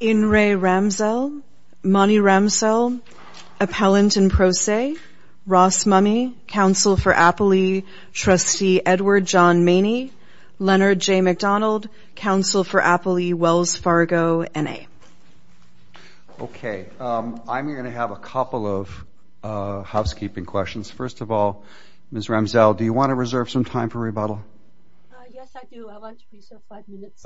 In re. Ramsell, Monty Ramsell, Appellant in Pro Se, Ross Mummy, Counsel for Appley, Trustee Edward John Maney, Leonard J. McDonald, Counsel for Appley, Wells Fargo, N.A. Okay, I'm going to have a couple of housekeeping questions. First of all, Ms. Ramsell, do you want to reserve some time for rebuttal?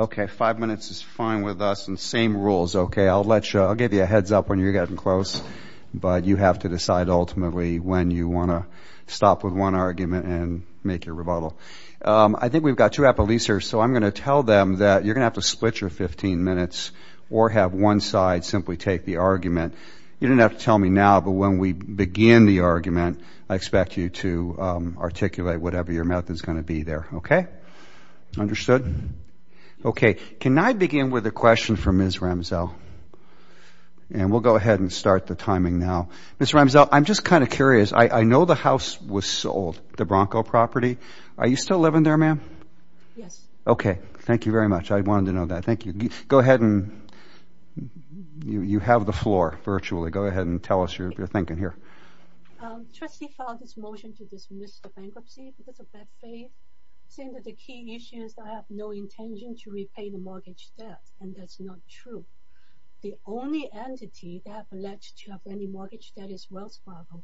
Okay, five minutes is fine with us and same rules, okay? I'll let you, I'll give you a heads up when you're getting close, but you have to decide ultimately when you want to stop with one argument and make your rebuttal. I think we've got two appellees here, so I'm going to tell them that you're going to have to split your 15 minutes or have one side simply take the argument. You don't have to tell me now, but when we begin the argument, I expect you to articulate whatever your mouth is going to be there, okay? Understood? Okay, can I begin with a question for Ms. Ramsell? And we'll go ahead and start the timing now. Ms. Ramsell, I'm just kind of curious. I know the house was sold, the Bronco property. Are you still living there, ma'am? Yes. Okay, thank you very much. I wanted to know that. Thank you. Go ahead and you have the floor, virtually. Go ahead and tell us your thinking here. Trustee filed his motion to dismiss the bankruptcy because of bad faith, saying that the key issue is that I have no intention to repay the mortgage debt, and that's not true. The only entity that have alleged to have any mortgage debt is Wells Fargo,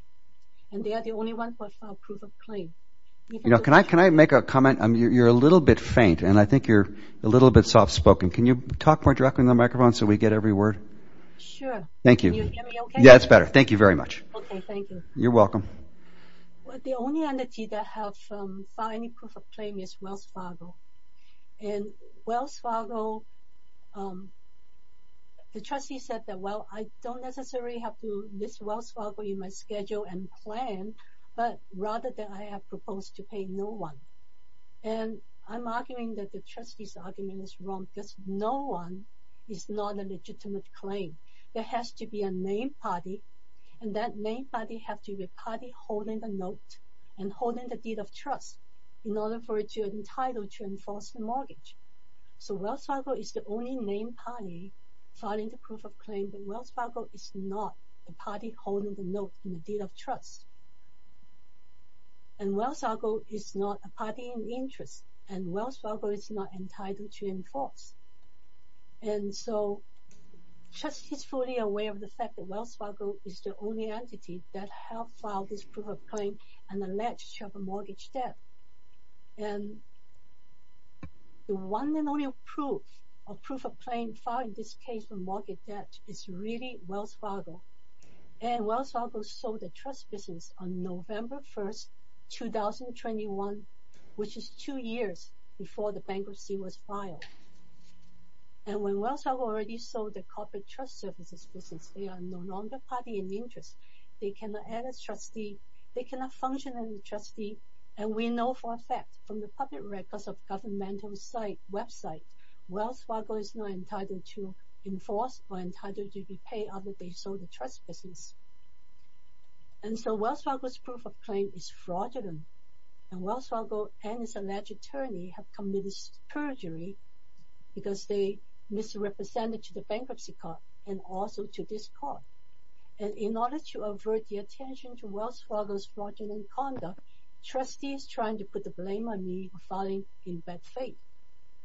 and they are the only one to file a proof of claim. You know, can I make a comment? You're a little bit faint, and I think you're a little bit soft-spoken. Can you talk more directly in the microphone so we get every word? Sure. Thank you. Yeah, it's better. Thank you very much. Okay, thank you. You're welcome. The only entity that have filed any proof of claim is Wells Fargo, and Wells Fargo, the trustee said that, well, I don't necessarily have to miss Wells Fargo in my schedule and plan, but rather that I have proposed to pay no one. And I'm arguing that the trustee's argument is wrong, because no one is not a legitimate claim. There has to be a named party, and that named party have to be a party holding the note and holding the deed of trust in order for it to be entitled to enforce the mortgage. So Wells Fargo is the only named party filing the proof of claim, and Wells Fargo is not a party holding the note and deed of trust. And Wells Fargo is not a party in interest, and Wells Fargo is not entitled to enforce. And so, trustees fully aware of the fact that Wells Fargo is the only entity that have filed this proof of claim and alleged to have a mortgage debt. And the one and only proof of proof of claim filed in this case for mortgage debt is really Wells Fargo. And Wells Fargo sold the trust business on November 1st, 2021, which is two years before the bankruptcy was filed. And when Wells Fargo already sold the corporate trust services business, they are no longer party in interest. They cannot add a trustee, they cannot function as a trustee, and we know for a fact from the public records of governmental website, Wells Fargo is not entitled to enforce or entitled to repay other they sold the trust business. And so, Wells Fargo's proof of claim is fraudulent, and Wells Fargo and its alleged attorney have committed perjury because they misrepresented to the bankruptcy court and also to this court. And in order to avert the attention to Wells Fargo's fraudulent conduct, trustees trying to put the blame on me for filing in bad faith.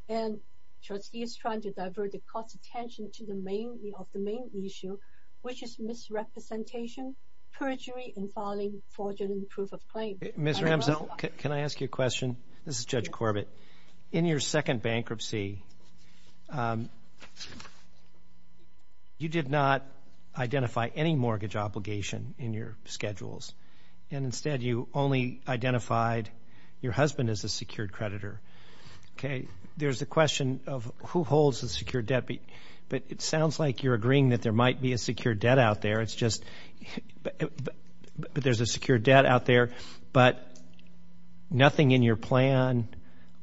And trustees trying to divert the court's attention to the main of the main issue, which is misrepresentation, perjury, and filing fraudulent proof of claim. Mr. Amsel, can I ask you a question? This is Judge Corbett. In your second bankruptcy, you did not identify any mortgage obligation in your schedules. And instead, you only identified your husband as a secured creditor. Okay. There's a question of who holds the secure debt, but it sounds like you're agreeing that there might be a secure debt out there. It's just, but there's a secure debt out there, but nothing in your plan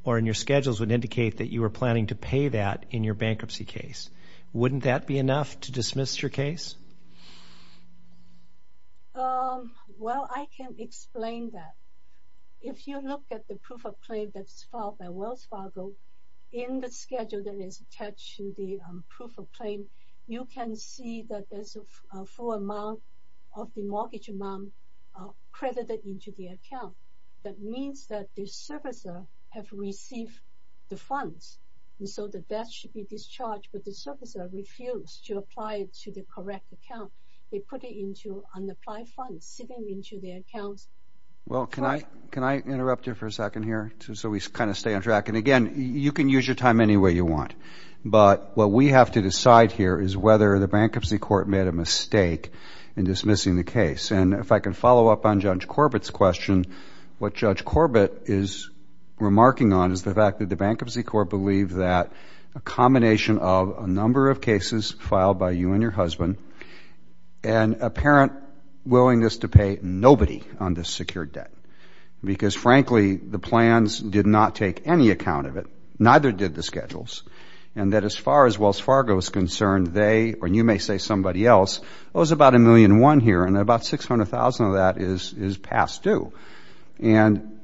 or in your schedules would indicate that you were planning to pay that in your bankruptcy case. Wouldn't that be enough to dismiss your case? Well, I can explain that. If you look at the proof of claim that's filed by Wells Fargo, in the schedule that is attached to the proof of claim, you can see that there's a full amount of the mortgage amount credited into the account. That means that the servicer has received the funds. And so the debt should be discharged, but the servicer refused to apply it to the correct account. They put it into unapplied funds sitting into their accounts. Well, can I interrupt you for a second here so we kind of stay on track? And again, you can use your time any way you want. But what we have to decide here is whether the bankruptcy court made a mistake in dismissing the case. And if I can follow up on Judge Corbett's question, what Judge Corbett is remarking on is the fact that the bankruptcy court believed that a combination of a number of cases filed by you and your husband, and apparent willingness to pay nobody on this secure debt. Because frankly, the plans did not take any account of it. Neither did the schedules. And that as far as Wells Fargo is concerned, they, or you may say somebody else, it was about a million one here and about 600,000 of that is past due. And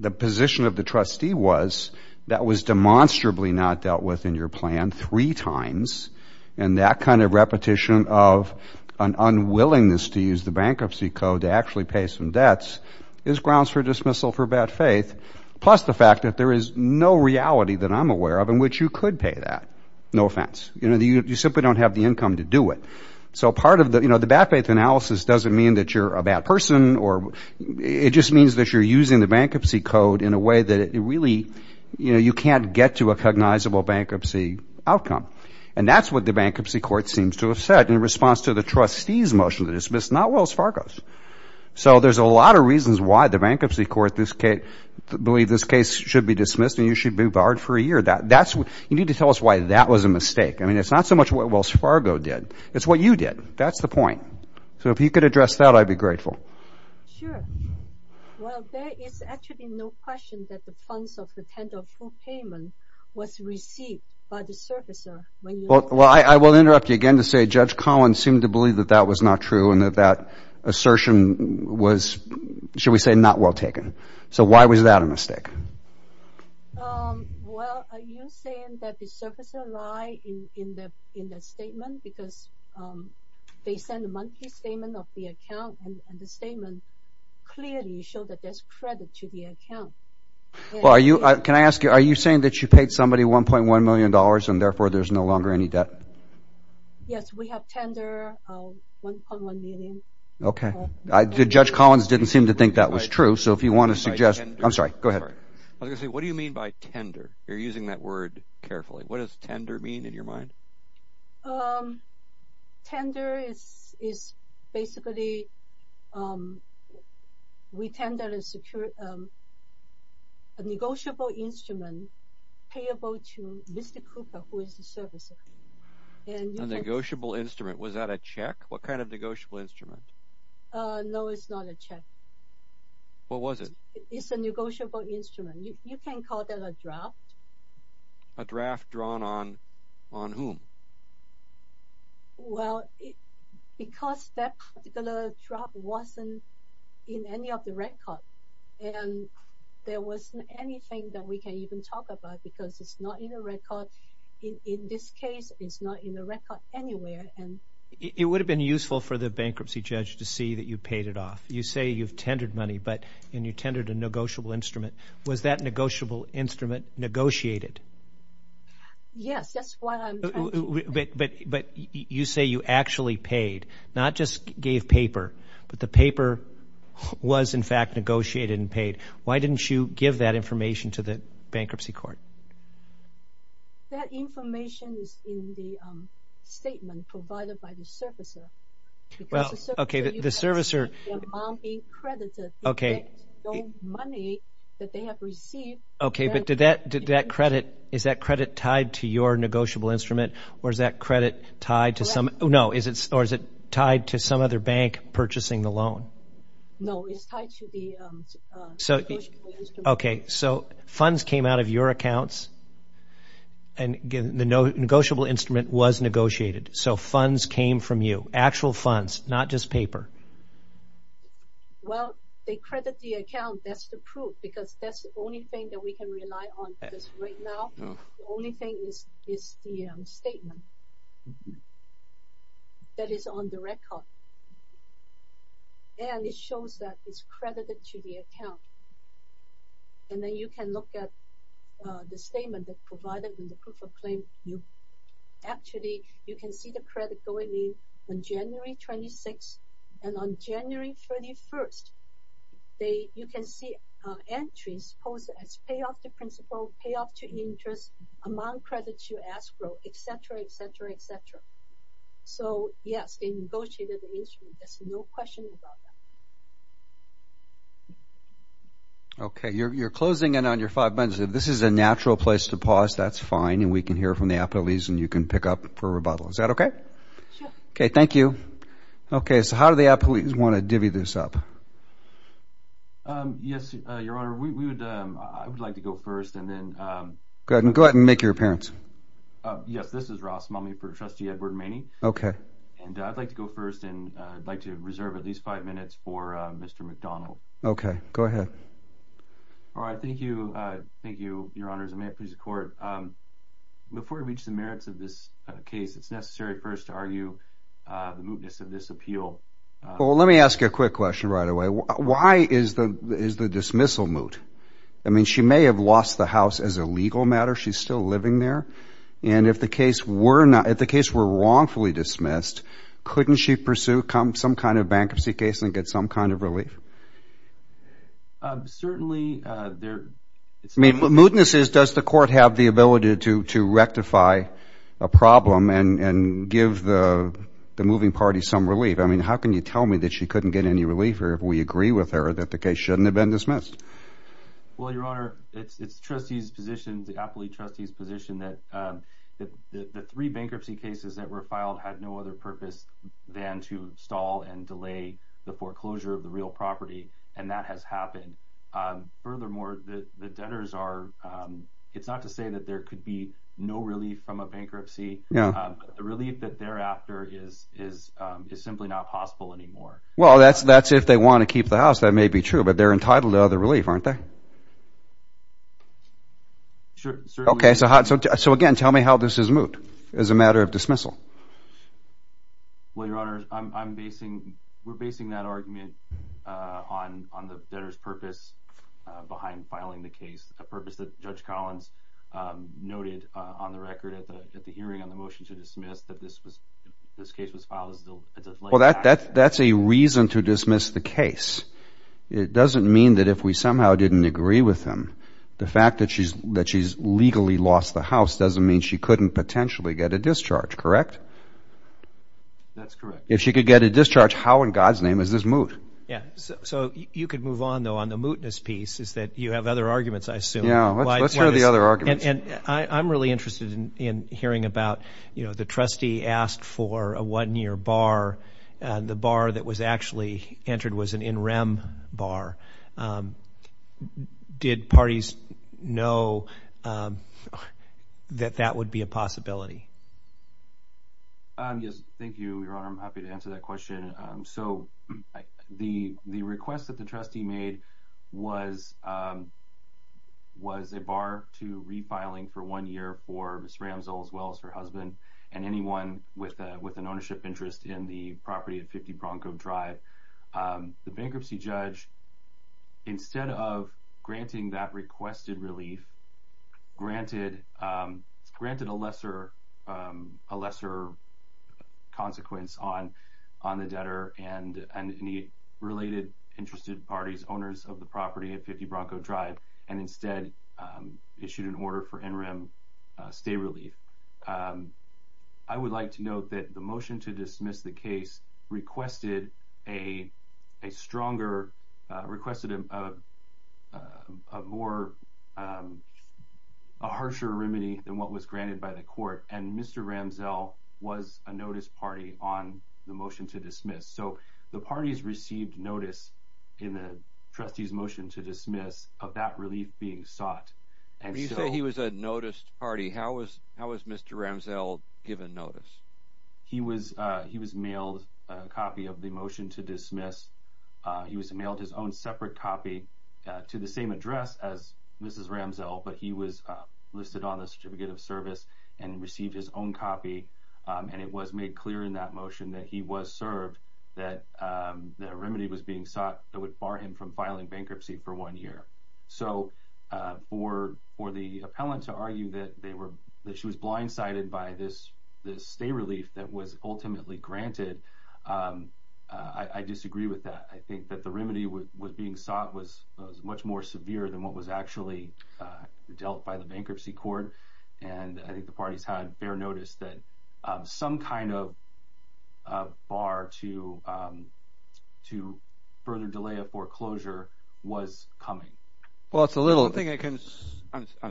the position of the trustee was that was demonstrably not dealt with in your plan three times. And that kind of repetition of an unwillingness to use the bankruptcy code to actually pay some debts is grounds for dismissal for bad faith. Plus the fact that there is no reality that I'm aware of in which you could pay that. No offense. You know, you simply don't have the income to do it. So part of the, you know, the bad faith analysis doesn't mean that you're a bad person or it just means that you're using the bankruptcy code in a way that it really, you know, you can't get to a cognizable bankruptcy outcome. And that's what the bankruptcy court seems to have said in response to the trustee's motion to dismiss, not Wells Fargo's. So there's a lot of that. That's what you need to tell us why that was a mistake. I mean, it's not so much what Wells Fargo did. It's what you did. That's the point. So if you could address that, I'd be grateful. Sure. Well, there is actually no question that the funds of the tender for payment was received by the servicer. Well, I will interrupt you again to say Judge Collins seemed to believe that that was not true and that that assertion was, should we say, not well taken. So why was that a mistake? Well, are you saying that the servicer lied in the statement because they sent a monthly statement of the account and the statement clearly showed that there's credit to the account? Well, are you, can I ask you, are you saying that you paid somebody $1.1 million and therefore there's no longer any debt? Yes, we have tender of $1.1 million. Okay. Judge Collins didn't seem to think that was true. So if you want to suggest, I'm sorry, go ahead. I was going to say, what do you mean by tender? You're using that word carefully. What does tender mean in your mind? Tender is basically, we tend to secure a negotiable instrument payable to Mr. Cooper, who is the servicer. A negotiable instrument. Was that a check? What kind of negotiable instrument? No, it's not a check. What was it? It's a negotiable instrument. You can call that a draft. A draft drawn on whom? Well, because that particular draft wasn't in any of the record and there wasn't anything that we can even talk about because it's not in the record. In this case, it's not in the record anywhere. It would have been useful for the bankruptcy judge to see that you paid it off. You say you've tendered money and you tendered a negotiable instrument. Was that negotiable instrument negotiated? Yes, that's what I'm talking about. But you say you actually paid, not just gave paper, but the paper was in fact negotiated and paid. Why didn't you give that information to the bankruptcy court? That information is in the statement provided by the servicer. Is that credit tied to your negotiable instrument or is that credit tied to some other bank purchasing the loan? No, it's tied to the negotiable instrument. Okay, so funds came out of your accounts and the negotiable instrument was negotiated. So funds came from you. Actual funds, not just paper. Well, they credit the account. That's the proof because that's the only thing that we can rely on right now. The only thing is the statement that is on the record. And it shows that it's credited to the account. And then you can look at the statement that provided in the proof of claim. Actually, you can see the credit going in on January 26 and on January 31st. You can see entries posted as payoff to principal, payoff to interest, amount credited to escrow, et cetera, et cetera, et cetera. So yes, they negotiated the instrument. There's no question about that. Okay, you're closing in on your five minutes. If this is a natural place to pause, that's fine. And we can hear from the appellees and you can pick up for rebuttal. Is that okay? Okay, thank you. Okay, so how do the appellees want to divvy this up? Um, yes, your honor, we would, I would like to go first and then, um, go ahead and go ahead and make your appearance. Uh, yes, this is Ross mummy for trustee Edward Maney. Okay. And I'd like to go first and I'd like to reserve at least five minutes for Mr. McDonald. Okay, go ahead. All right. Thank you. Uh, thank you, your honors. And may it please the court, um, before we reach the merits of this case, it's necessary first to argue, uh, the quick question right away. Why is the, is the dismissal moot? I mean, she may have lost the house as a legal matter. She's still living there. And if the case were not, if the case were wrongfully dismissed, couldn't she pursue come some kind of bankruptcy case and get some kind of relief? Um, certainly, uh, there, I mean, what mootness is, does the court have the ability to, to rectify a problem and, and give the, the moving party some relief? I mean, how can you tell me that she couldn't get any relief or if we agree with her that the case shouldn't have been dismissed? Well, your honor, it's, it's trustees positions, the appellee trustees position that, um, that the three bankruptcy cases that were filed had no other purpose than to stall and delay the foreclosure of the real property. And that has happened. Um, furthermore, the debtors are, um, it's not to say that there could be no relief from a bankruptcy relief that thereafter is, is, um, is simply not possible anymore. Well, that's, that's if they want to keep the house. That may be true, but they're entitled to other relief, aren't they? Okay. So, so again, tell me how this is moot as a matter of dismissal. Well, your honor, I'm, I'm basing, we're basing that argument, uh, on, on the debtor's purpose, uh, behind filing the case, a purpose that judge Collins, um, noted, uh, on the record at the, at the hearing on the motion to dismiss that this was, this case was filed as a, well, that, that, that's a reason to dismiss the case. It doesn't mean that if we somehow didn't agree with him, the fact that she's, that she's legally lost the house doesn't mean she couldn't potentially get a discharge, correct? That's correct. If she could get a discharge, how in God's name is this moot? Yeah. So, so you could move on though, on the mootness piece is that you have other arguments, I assume. Yeah. Let's hear the other arguments. And, and I, I'm really interested in, in hearing about, you know, the trustee asked for a one year bar. Uh, the bar that was actually entered was an NREM bar. Um, did parties know, um, that that would be a possibility? Um, yes. Thank you, your honor. I'm happy to answer that question. Um, so the, the request that the trustee made was, um, was a bar to refiling for one year for Ms. Ramsell, as well as her husband and anyone with a, with an ownership interest in the property at 50 Bronco Drive. Um, the bankruptcy judge, instead of granting that requested relief, granted, um, granted a lesser, um, a lesser consequence on, on the debtor and, and the related interested parties, owners of the property at 50 Bronco Drive, and instead, um, issued an order for NREM, uh, stay relief. Um, I would like to note that the motion to dismiss the case requested a, a stronger, uh, requested a more, um, a harsher remedy than what was granted by the court. And Mr. Ramsell was a notice party on the motion to dismiss. So the parties received notice in the trustee's motion to dismiss of that relief being sought. When you say he was a noticed party, how was, how was Mr. Ramsell given notice? He was, he was mailed a copy of the motion to dismiss. He was mailed his own separate copy to the same address as Mrs. Ramsell, but he was listed on the certificate of service and received his own copy. And it was made clear in that motion that he was served, that the remedy was being sought that would bar him from filing bankruptcy for one year. So, uh, for, for the appellant to argue that they were, that she was blindsided by this, this stay relief that was ultimately granted, um, uh, I disagree with that. I think that the remedy was being sought was much more severe than what was actually, uh, dealt by the bankruptcy court. And I think the parties had bare notice that, um, some kind of, uh, bar to, um, to further delay a foreclosure was coming. Well, it's a little thing I can.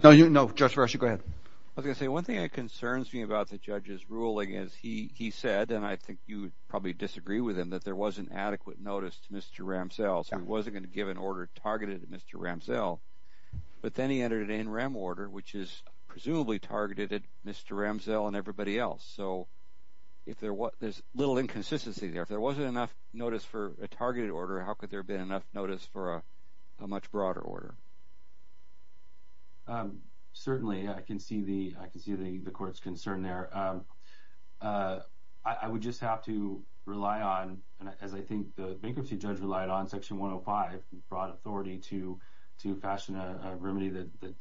No, you know, just rush. You go ahead. I was going to say one thing that concerns me about the judge's ruling is he, he said, and I think you would probably disagree with him that there wasn't adequate notice to Mr. Ramsell. So he wasn't going to give an order targeted at Mr. Ramsell, but then he entered it in rem order, which is presumably targeted at Mr. Ramsell and everybody else. So if there was, there's little inconsistency there, if there wasn't enough notice for a targeted order, how could there have been enough notice for a, a much broader order? Um, certainly I can see the, I can see the, the court's concern there. Um, uh, I would just have to rely on, as I think the bankruptcy judge relied on section 105 fraud authority to, to fashion a remedy that, that,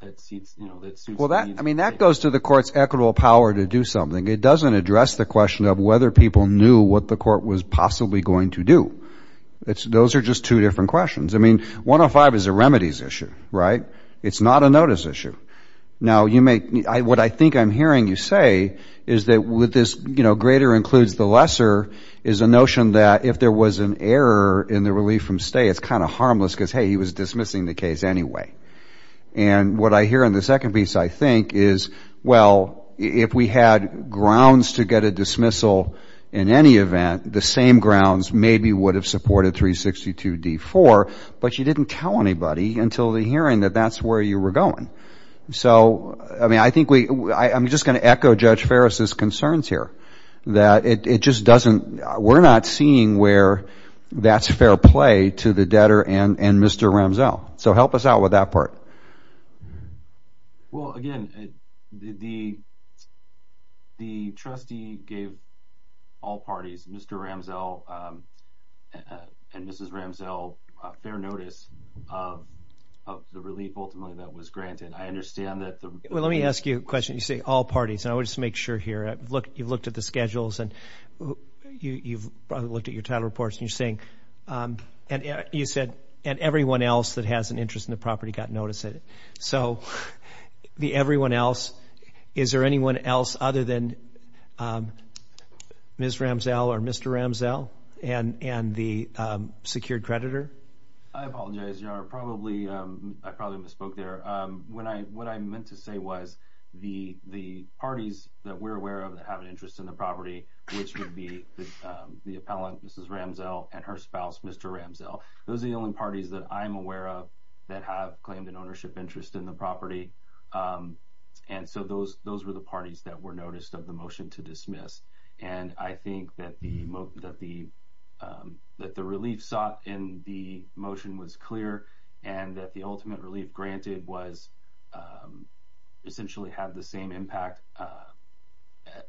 that seats, you know, that suits. Well, that, I mean, that goes to the court's equitable power to do something. It doesn't address the question of whether people knew what the court was possibly going to do. It's, those are just two different questions. I mean, 105 is a remedies issue, right? It's not a notice issue. Now you may, what I think I'm hearing you say is that with this, you know, greater includes the lesser is a notion that if there was an error in the relief from stay, it's kind of harmless because, hey, he was dismissing the case anyway. And what I hear in the second piece, I think is, well, if we had grounds to get a dismissal in any event, the same grounds maybe would have supported 362 D4, but you didn't tell anybody until the hearing that that's where you were going. So, I mean, I think we, I'm just going to echo Judge Ferris's concerns here that it, it just doesn't, we're not seeing where that's fair play to the debtor and, and Mr. Ramsell. So help us out with that part. Well, again, the, the, the trustee gave all parties, Mr. Ramsell and Mrs. Ramsell, a fair notice of, of the relief ultimately that was granted. I understand that. Well, let me ask you a question. You say all parties and I would just make sure here, look, you've looked at the schedules and you've probably looked at your title reports and you're and you said, and everyone else that has an interest in the property got notice of it. So the everyone else, is there anyone else other than Ms. Ramsell or Mr. Ramsell and, and the secured creditor? I apologize, Your Honor. Probably, I probably misspoke there. When I, what I meant to say was the, the parties that we're aware of have an interest in the property, which would be the appellant, Mrs. Ramsell and her spouse, Mr. Ramsell. Those are the only parties that I'm aware of that have claimed an ownership interest in the property. And so those, those were the parties that were noticed of the motion to dismiss. And I think that the, that the, that the relief sought in the motion was clear and that the ultimate relief granted was essentially have the same impact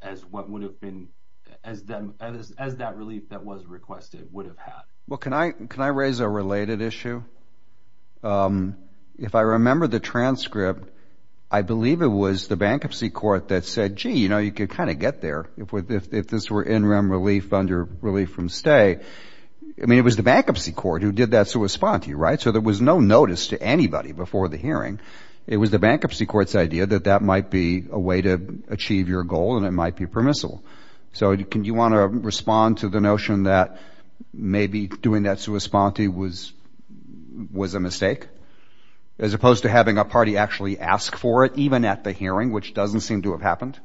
as what would have been, as them, as, as that relief that was requested would have had. Well, can I, can I raise a related issue? If I remember the transcript, I believe it was the bankruptcy court that said, gee, you know, you could kind of get there if, if, if this were in rem relief under relief from stay. I mean, it was the bankruptcy court who did that sua sponte, right? So there was no notice to anybody before the hearing. It was the bankruptcy court's idea that that might be a way to achieve your goal and it might be permissible. So can you want to respond to the notion that maybe doing that sua sponte was, was a mistake as opposed to having a party actually ask for it, even at the hearing, which doesn't seem to have happened?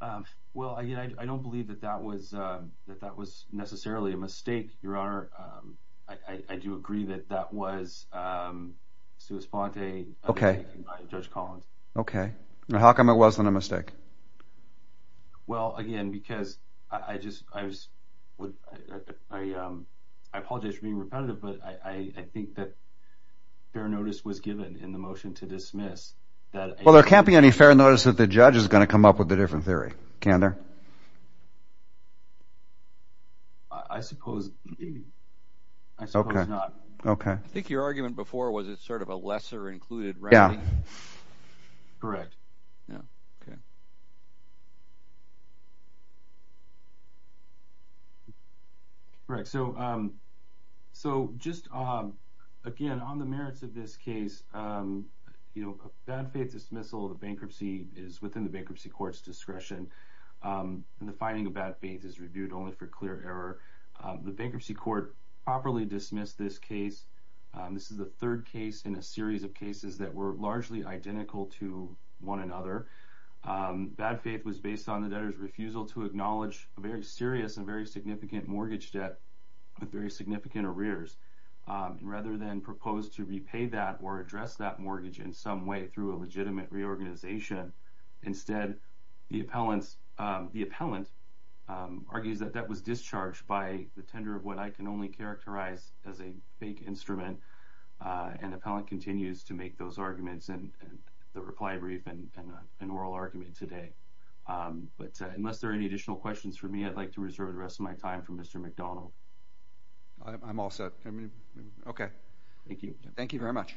Um, well, I, I don't believe that that was, um, that that was necessarily a mistake. Your honor. Um, I, I do agree that that was, um, sua sponte. Okay. Judge Collins. Okay. How come it wasn't a mistake? Well, again, because I just, I was, I, um, I apologize for being repetitive, but I think that fair notice was given in the Well, there can't be any fair notice that the judge is going to come up with a different theory, can there? I suppose. I suppose not. Okay. I think your argument before was it sort of a lesser included remedy. Yeah, correct. Yeah. Okay. Correct. So, um, so just, um, again, on the merits of this case, um, you know, a bad faith dismissal of bankruptcy is within the bankruptcy court's discretion. Um, and the finding of bad faith is reviewed only for clear error. Um, the bankruptcy court properly dismissed this case. Um, this is the third case in a series of cases that were largely identical to one another. Um, bad faith was based on the debtor's refusal to acknowledge a very serious and very significant mortgage debt with very significant arrears, um, rather than propose to repay that or address that mortgage in some way through a legitimate reorganization. Instead, the appellants, um, the appellant, um, argues that that was discharged by the tender of what I can only characterize as a fake instrument. Uh, and the appellant continues to make those arguments and the reply brief and an oral argument today. Um, but unless there are any additional questions for me, I'd like to reserve the rest of my time from Mr McDonald. I'm all set. Okay. Thank you. Thank you very much.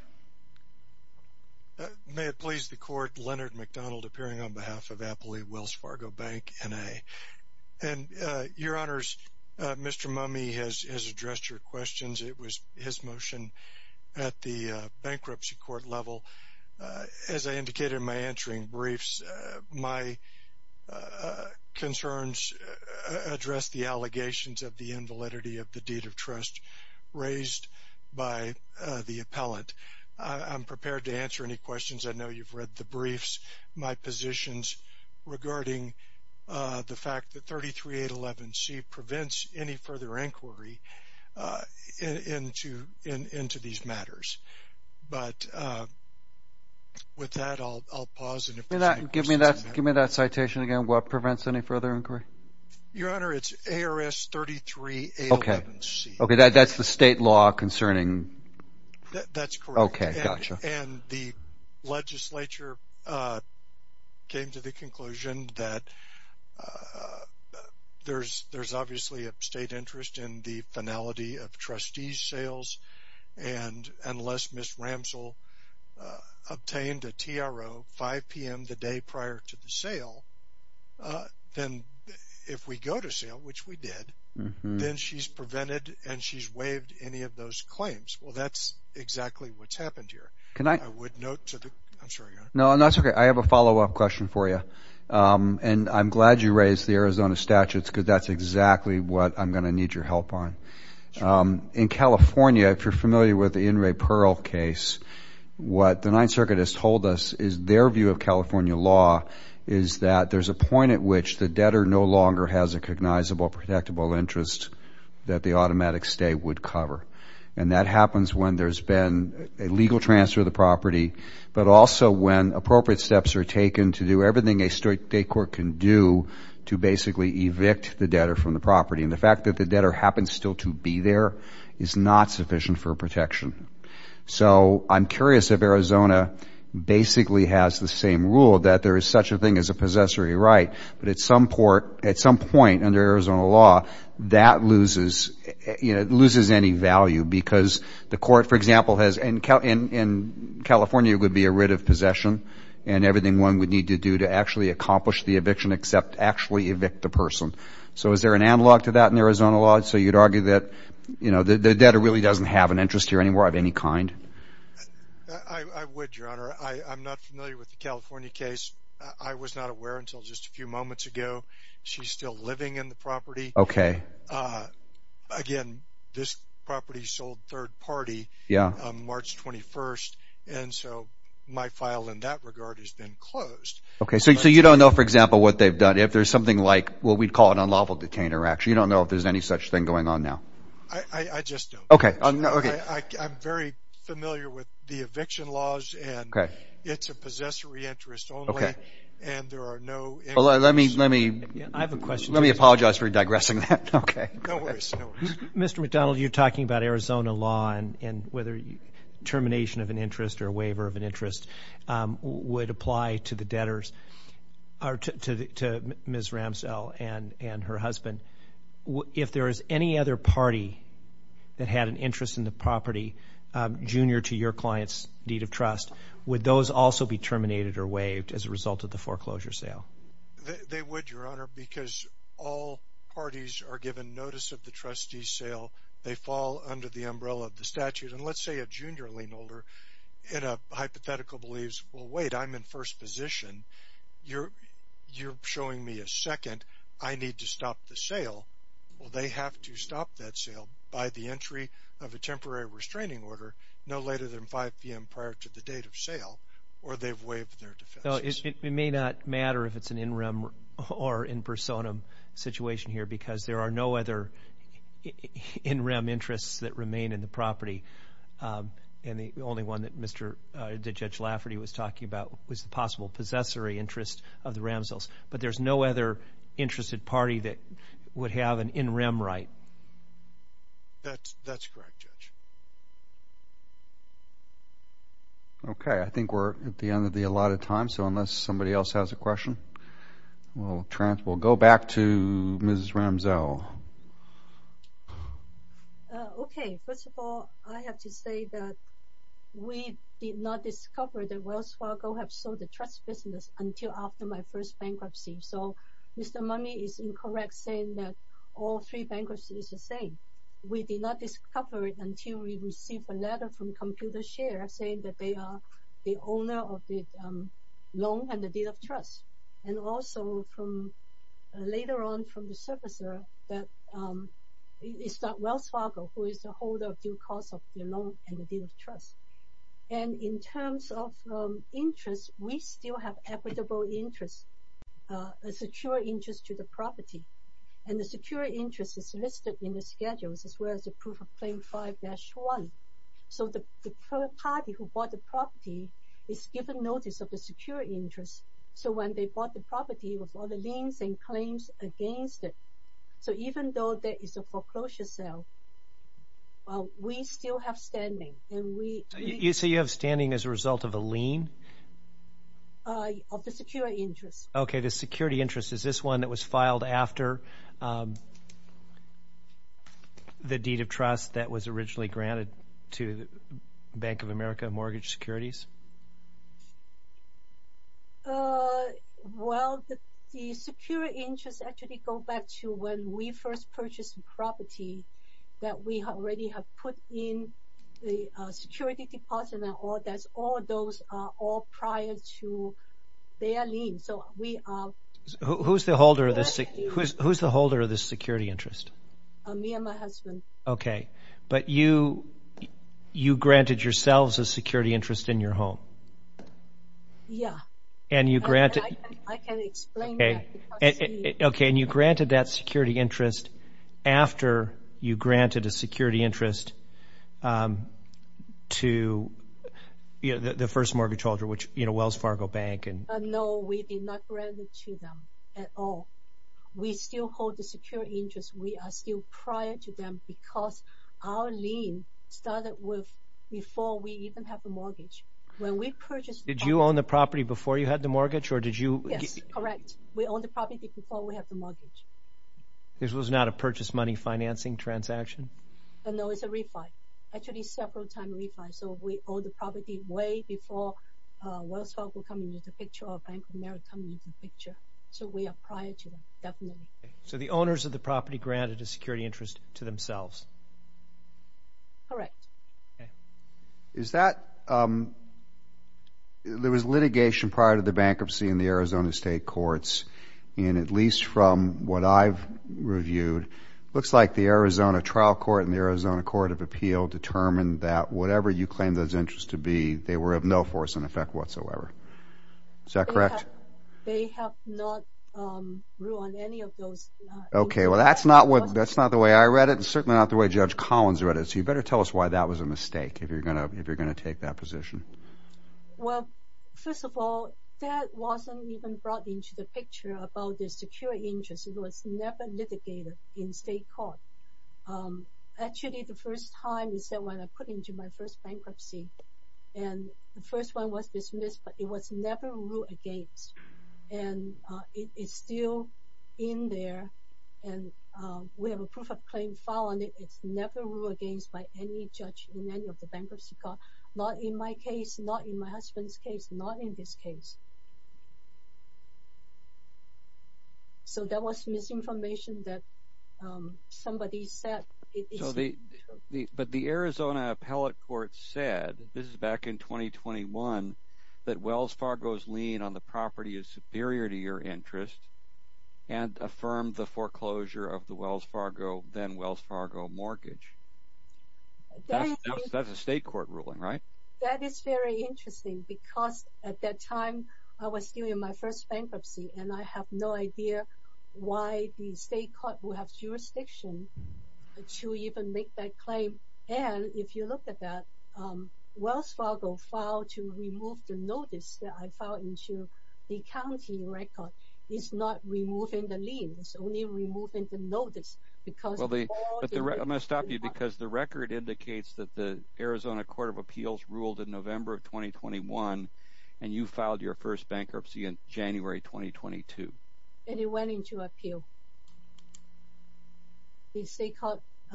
May it please the court. Leonard McDonald, appearing on behalf of Appalachia Wells Fargo Bank and a and your honors. Mr Mummy has addressed your questions. It was his motion at the bankruptcy court level. Uh, as I indicated in my answering briefs, my, uh, concerns address the allegations of the invalidity of the deed of trust raised by the appellant. I'm prepared to answer any questions. I know you've read the briefs, my positions regarding the fact that she prevents any further inquiry, uh, into, into these matters. But, uh, with that I'll, I'll pause and give me that. Give me that citation again. What prevents any further inquiry? Your honor, it's ARS 33. Okay. Okay. That's the state law concerning. That's correct. Okay. Gotcha. And the legislature, uh, came to the conclusion that, uh, uh, there's, there's obviously a state interest in the finality of trustees sales. And unless Ms. Ramsell, uh, obtained a TRO 5 PM the day prior to the sale, uh, then if we go to sale, which we did, then she's prevented and she's waived any of those claims. Well, that's exactly what's happened here. Can I, I would note to the, I'm sorry. No, no, that's okay. I have a follow up question for you. Um, and I'm glad you raised the Arizona statutes cause that's exactly what I'm going to need your help on. Um, in California, if you're familiar with the In re Pearl case, what the ninth circuit has told us is their view of California law is that there's a point at which the debtor no longer has a cognizable protectable interest that the automatic stay would cover. And that happens when there's been a legal transfer of the property, but also when appropriate steps are taken to do everything a state court can do to basically evict the debtor from the property. And the fact that the debtor happens still to be there is not sufficient for protection. So I'm curious if Arizona basically has the same rule that there is such a thing as a possessory right, but at some port, at some point under Arizona law that loses, you know, it loses any value because the court, for example, has in California would be a writ of possession and everything one would need to do to actually accomplish the eviction except actually evict the person. So is there an analog to that in Arizona law? So you'd argue that, you know, the debtor really doesn't have an interest here anymore of any kind. I would, Your Honor. I'm not familiar with the California case. I was not aware until just a few moments ago. She's still living in the property. Okay. Again, this property sold third party. Yeah. March 21st. And so my file in that regard has been closed. Okay. So you don't know, for example, what they've done if there's something like what we'd call an unlawful detainer. Actually, you don't know if there's any such thing going on now. I just don't. Okay. I'm very familiar with the eviction laws and it's a possessory interest only. Okay. And there are no... Well, let me apologize for digressing that. Okay. Mr. McDonald, you're talking about Arizona law and whether termination of an interest or waiver of an interest would apply to the debtors or to Ms. Ramsdell and her husband. If there is any other party that had an interest in the property junior to your client's deed of trust, would those also be terminated or waived as a result of the foreclosure sale? They would, Your Honor, because all parties are given notice of the trustee sale. They fall under the umbrella of the statute. And let's say a junior lien holder in a hypothetical believes, well, wait, I'm in first position. You're showing me a second. I need to stop the sale. Well, they have to stop that sale by the of a temporary restraining order no later than 5 p.m. prior to the date of sale or they've waived their defense. It may not matter if it's an in rem or in personam situation here because there are no other in rem interests that remain in the property. And the only one that Judge Lafferty was talking about was the possible possessory interest of the Ramsdells. But there's no other interested party that would have an in rem right. That's correct, Judge. Okay. I think we're at the end of the allotted time. So unless somebody else has a question, we'll go back to Mrs. Ramsdell. Okay. First of all, I have to say that we did not discover that Wells Fargo had sold the trust until after my first bankruptcy. So Mr. Money is incorrect saying that all three bankruptcies are the same. We did not discover it until we received a letter from ComputerShare saying that they are the owner of the loan and the deed of trust. And also from later on from the servicer that it's not Wells Fargo who is the holder of due cause of the loan and the deed of trust. And in terms of interest, we still have equitable interest, a secure interest to the property. And the secure interest is listed in the schedules as well as the proof of claim 5-1. So the party who bought the property is given notice of a secure interest. So when they bought the property with all the liens and claims against it. So even though there is a foreclosure sale, we still have standing. You say you have standing as a result of a lien? Of the secure interest. Okay, the security interest. Is this one that was filed after the deed of trust that was originally granted to Bank of America Mortgage Securities? Well, the secure interest actually goes back to when we first purchased the property that we already have put in the security deposit. All those are prior to their lien. So we are... Who's the holder of the security interest? Me and my husband. Okay, but you granted yourselves a security interest in your own property? Yeah. And you granted... I can explain that. Okay, and you granted that security interest after you granted a security interest to the first mortgage holder, which Wells Fargo Bank and... No, we did not grant it to them at all. We still hold the secure interest. We are still prior to them because our lien started before we even had the mortgage. When we purchased... Did you own the property before you had the mortgage, or did you... Yes, correct. We owned the property before we had the mortgage. This was not a purchase money financing transaction? No, it's a refi. Actually, several times refi. So we owned the property way before Wells Fargo coming into picture or Bank of America coming into picture. So we are prior to them, definitely. So the owners of the property granted a security interest to themselves? Correct. Is that... There was litigation prior to the bankruptcy in the Arizona State Courts, and at least from what I've reviewed, it looks like the Arizona Trial Court and the Arizona Court of Appeal determined that whatever you claimed those interests to be, they were of no force and effect whatsoever. Is that correct? They have not ruled on any of those. Okay. Well, that's not the way I read it, and certainly not the way Judge Collins read it. So you better tell us why that was a mistake, if you're going to take that position. Well, first of all, that wasn't even brought into the picture about the security interest. It was never litigated in state court. Actually, the first time is that when I put into my first bankruptcy, and the first one was dismissed, but it was never ruled against. And it's still in there, and we have a proof of claim file on it. It's never ruled against by any judge in any of the bankruptcy court, not in my case, not in my husband's case, not in this case. So that was misinformation that somebody said. So, but the Arizona Appellate Court said, this is back in 2021, that Wells Fargo's lien on the property is superior to your interest, and affirmed the foreclosure of the Wells Fargo, then Wells Fargo mortgage. That's a state court ruling, right? That is very interesting, because at that time, I was still in my first bankruptcy, and I have no idea why the state court will have jurisdiction to even make that claim. And if you look at that, Wells Fargo filed to remove the notice that I filed into the county record is not removing the lien, it's only removing the notice, because- Well, I'm going to stop you, because the record indicates that the Arizona Court of Appeals ruled in November of 2021, and you filed your first bankruptcy in January 2022. And it went into appeal.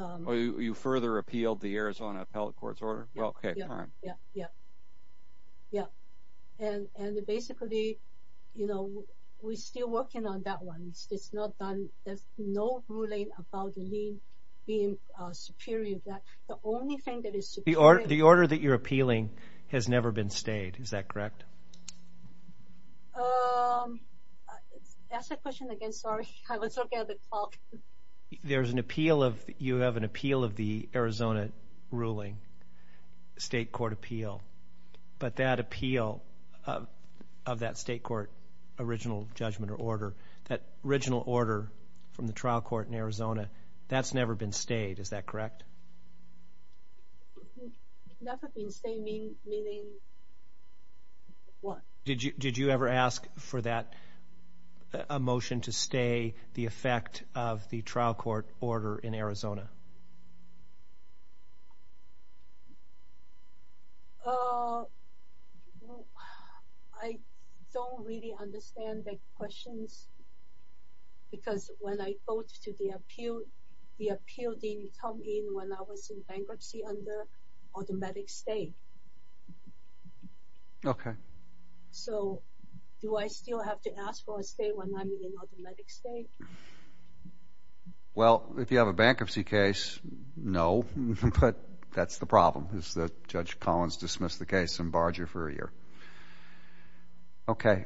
Oh, you further appealed the Arizona Appellate Court's order? Well, okay, fine. Yeah, yeah, yeah. And basically, you know, we're still working on that one. It's not done. There's no ruling about the lien being superior to that. The only thing that is superior- The order that you're appealing has never been stayed, is that correct? That's a question against our- You have an appeal of the Arizona ruling, state court appeal, but that appeal of that state court original judgment or order, that original order from the trial court in Arizona, that's never been stayed, is that correct? It's never been stayed, meaning what? Did you ever ask for that, a motion to stay the effect of the trial court order in Arizona? I don't really understand the questions, because when I go to the appeal, the appeal didn't come in when I was in bankruptcy under automatic stay. Okay. So do I still have to ask for a stay when I'm in automatic stay? Well, if you have a bankruptcy case, no, but that's the problem, is that Judge Collins dismissed the case and barred you for a year. Okay,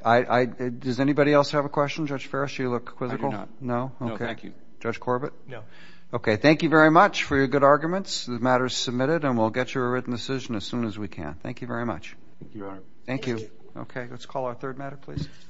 does anybody else have a question? Judge Farris, do you look quizzical? I do not. No? No, thank you. Judge Corbett? No. Okay, thank you very much for your good arguments. The matter is submitted, and we'll get you a written decision as soon as we can. Thank you very much. Thank you, Your Honor. Thank you. Okay, let's call our third matter, please.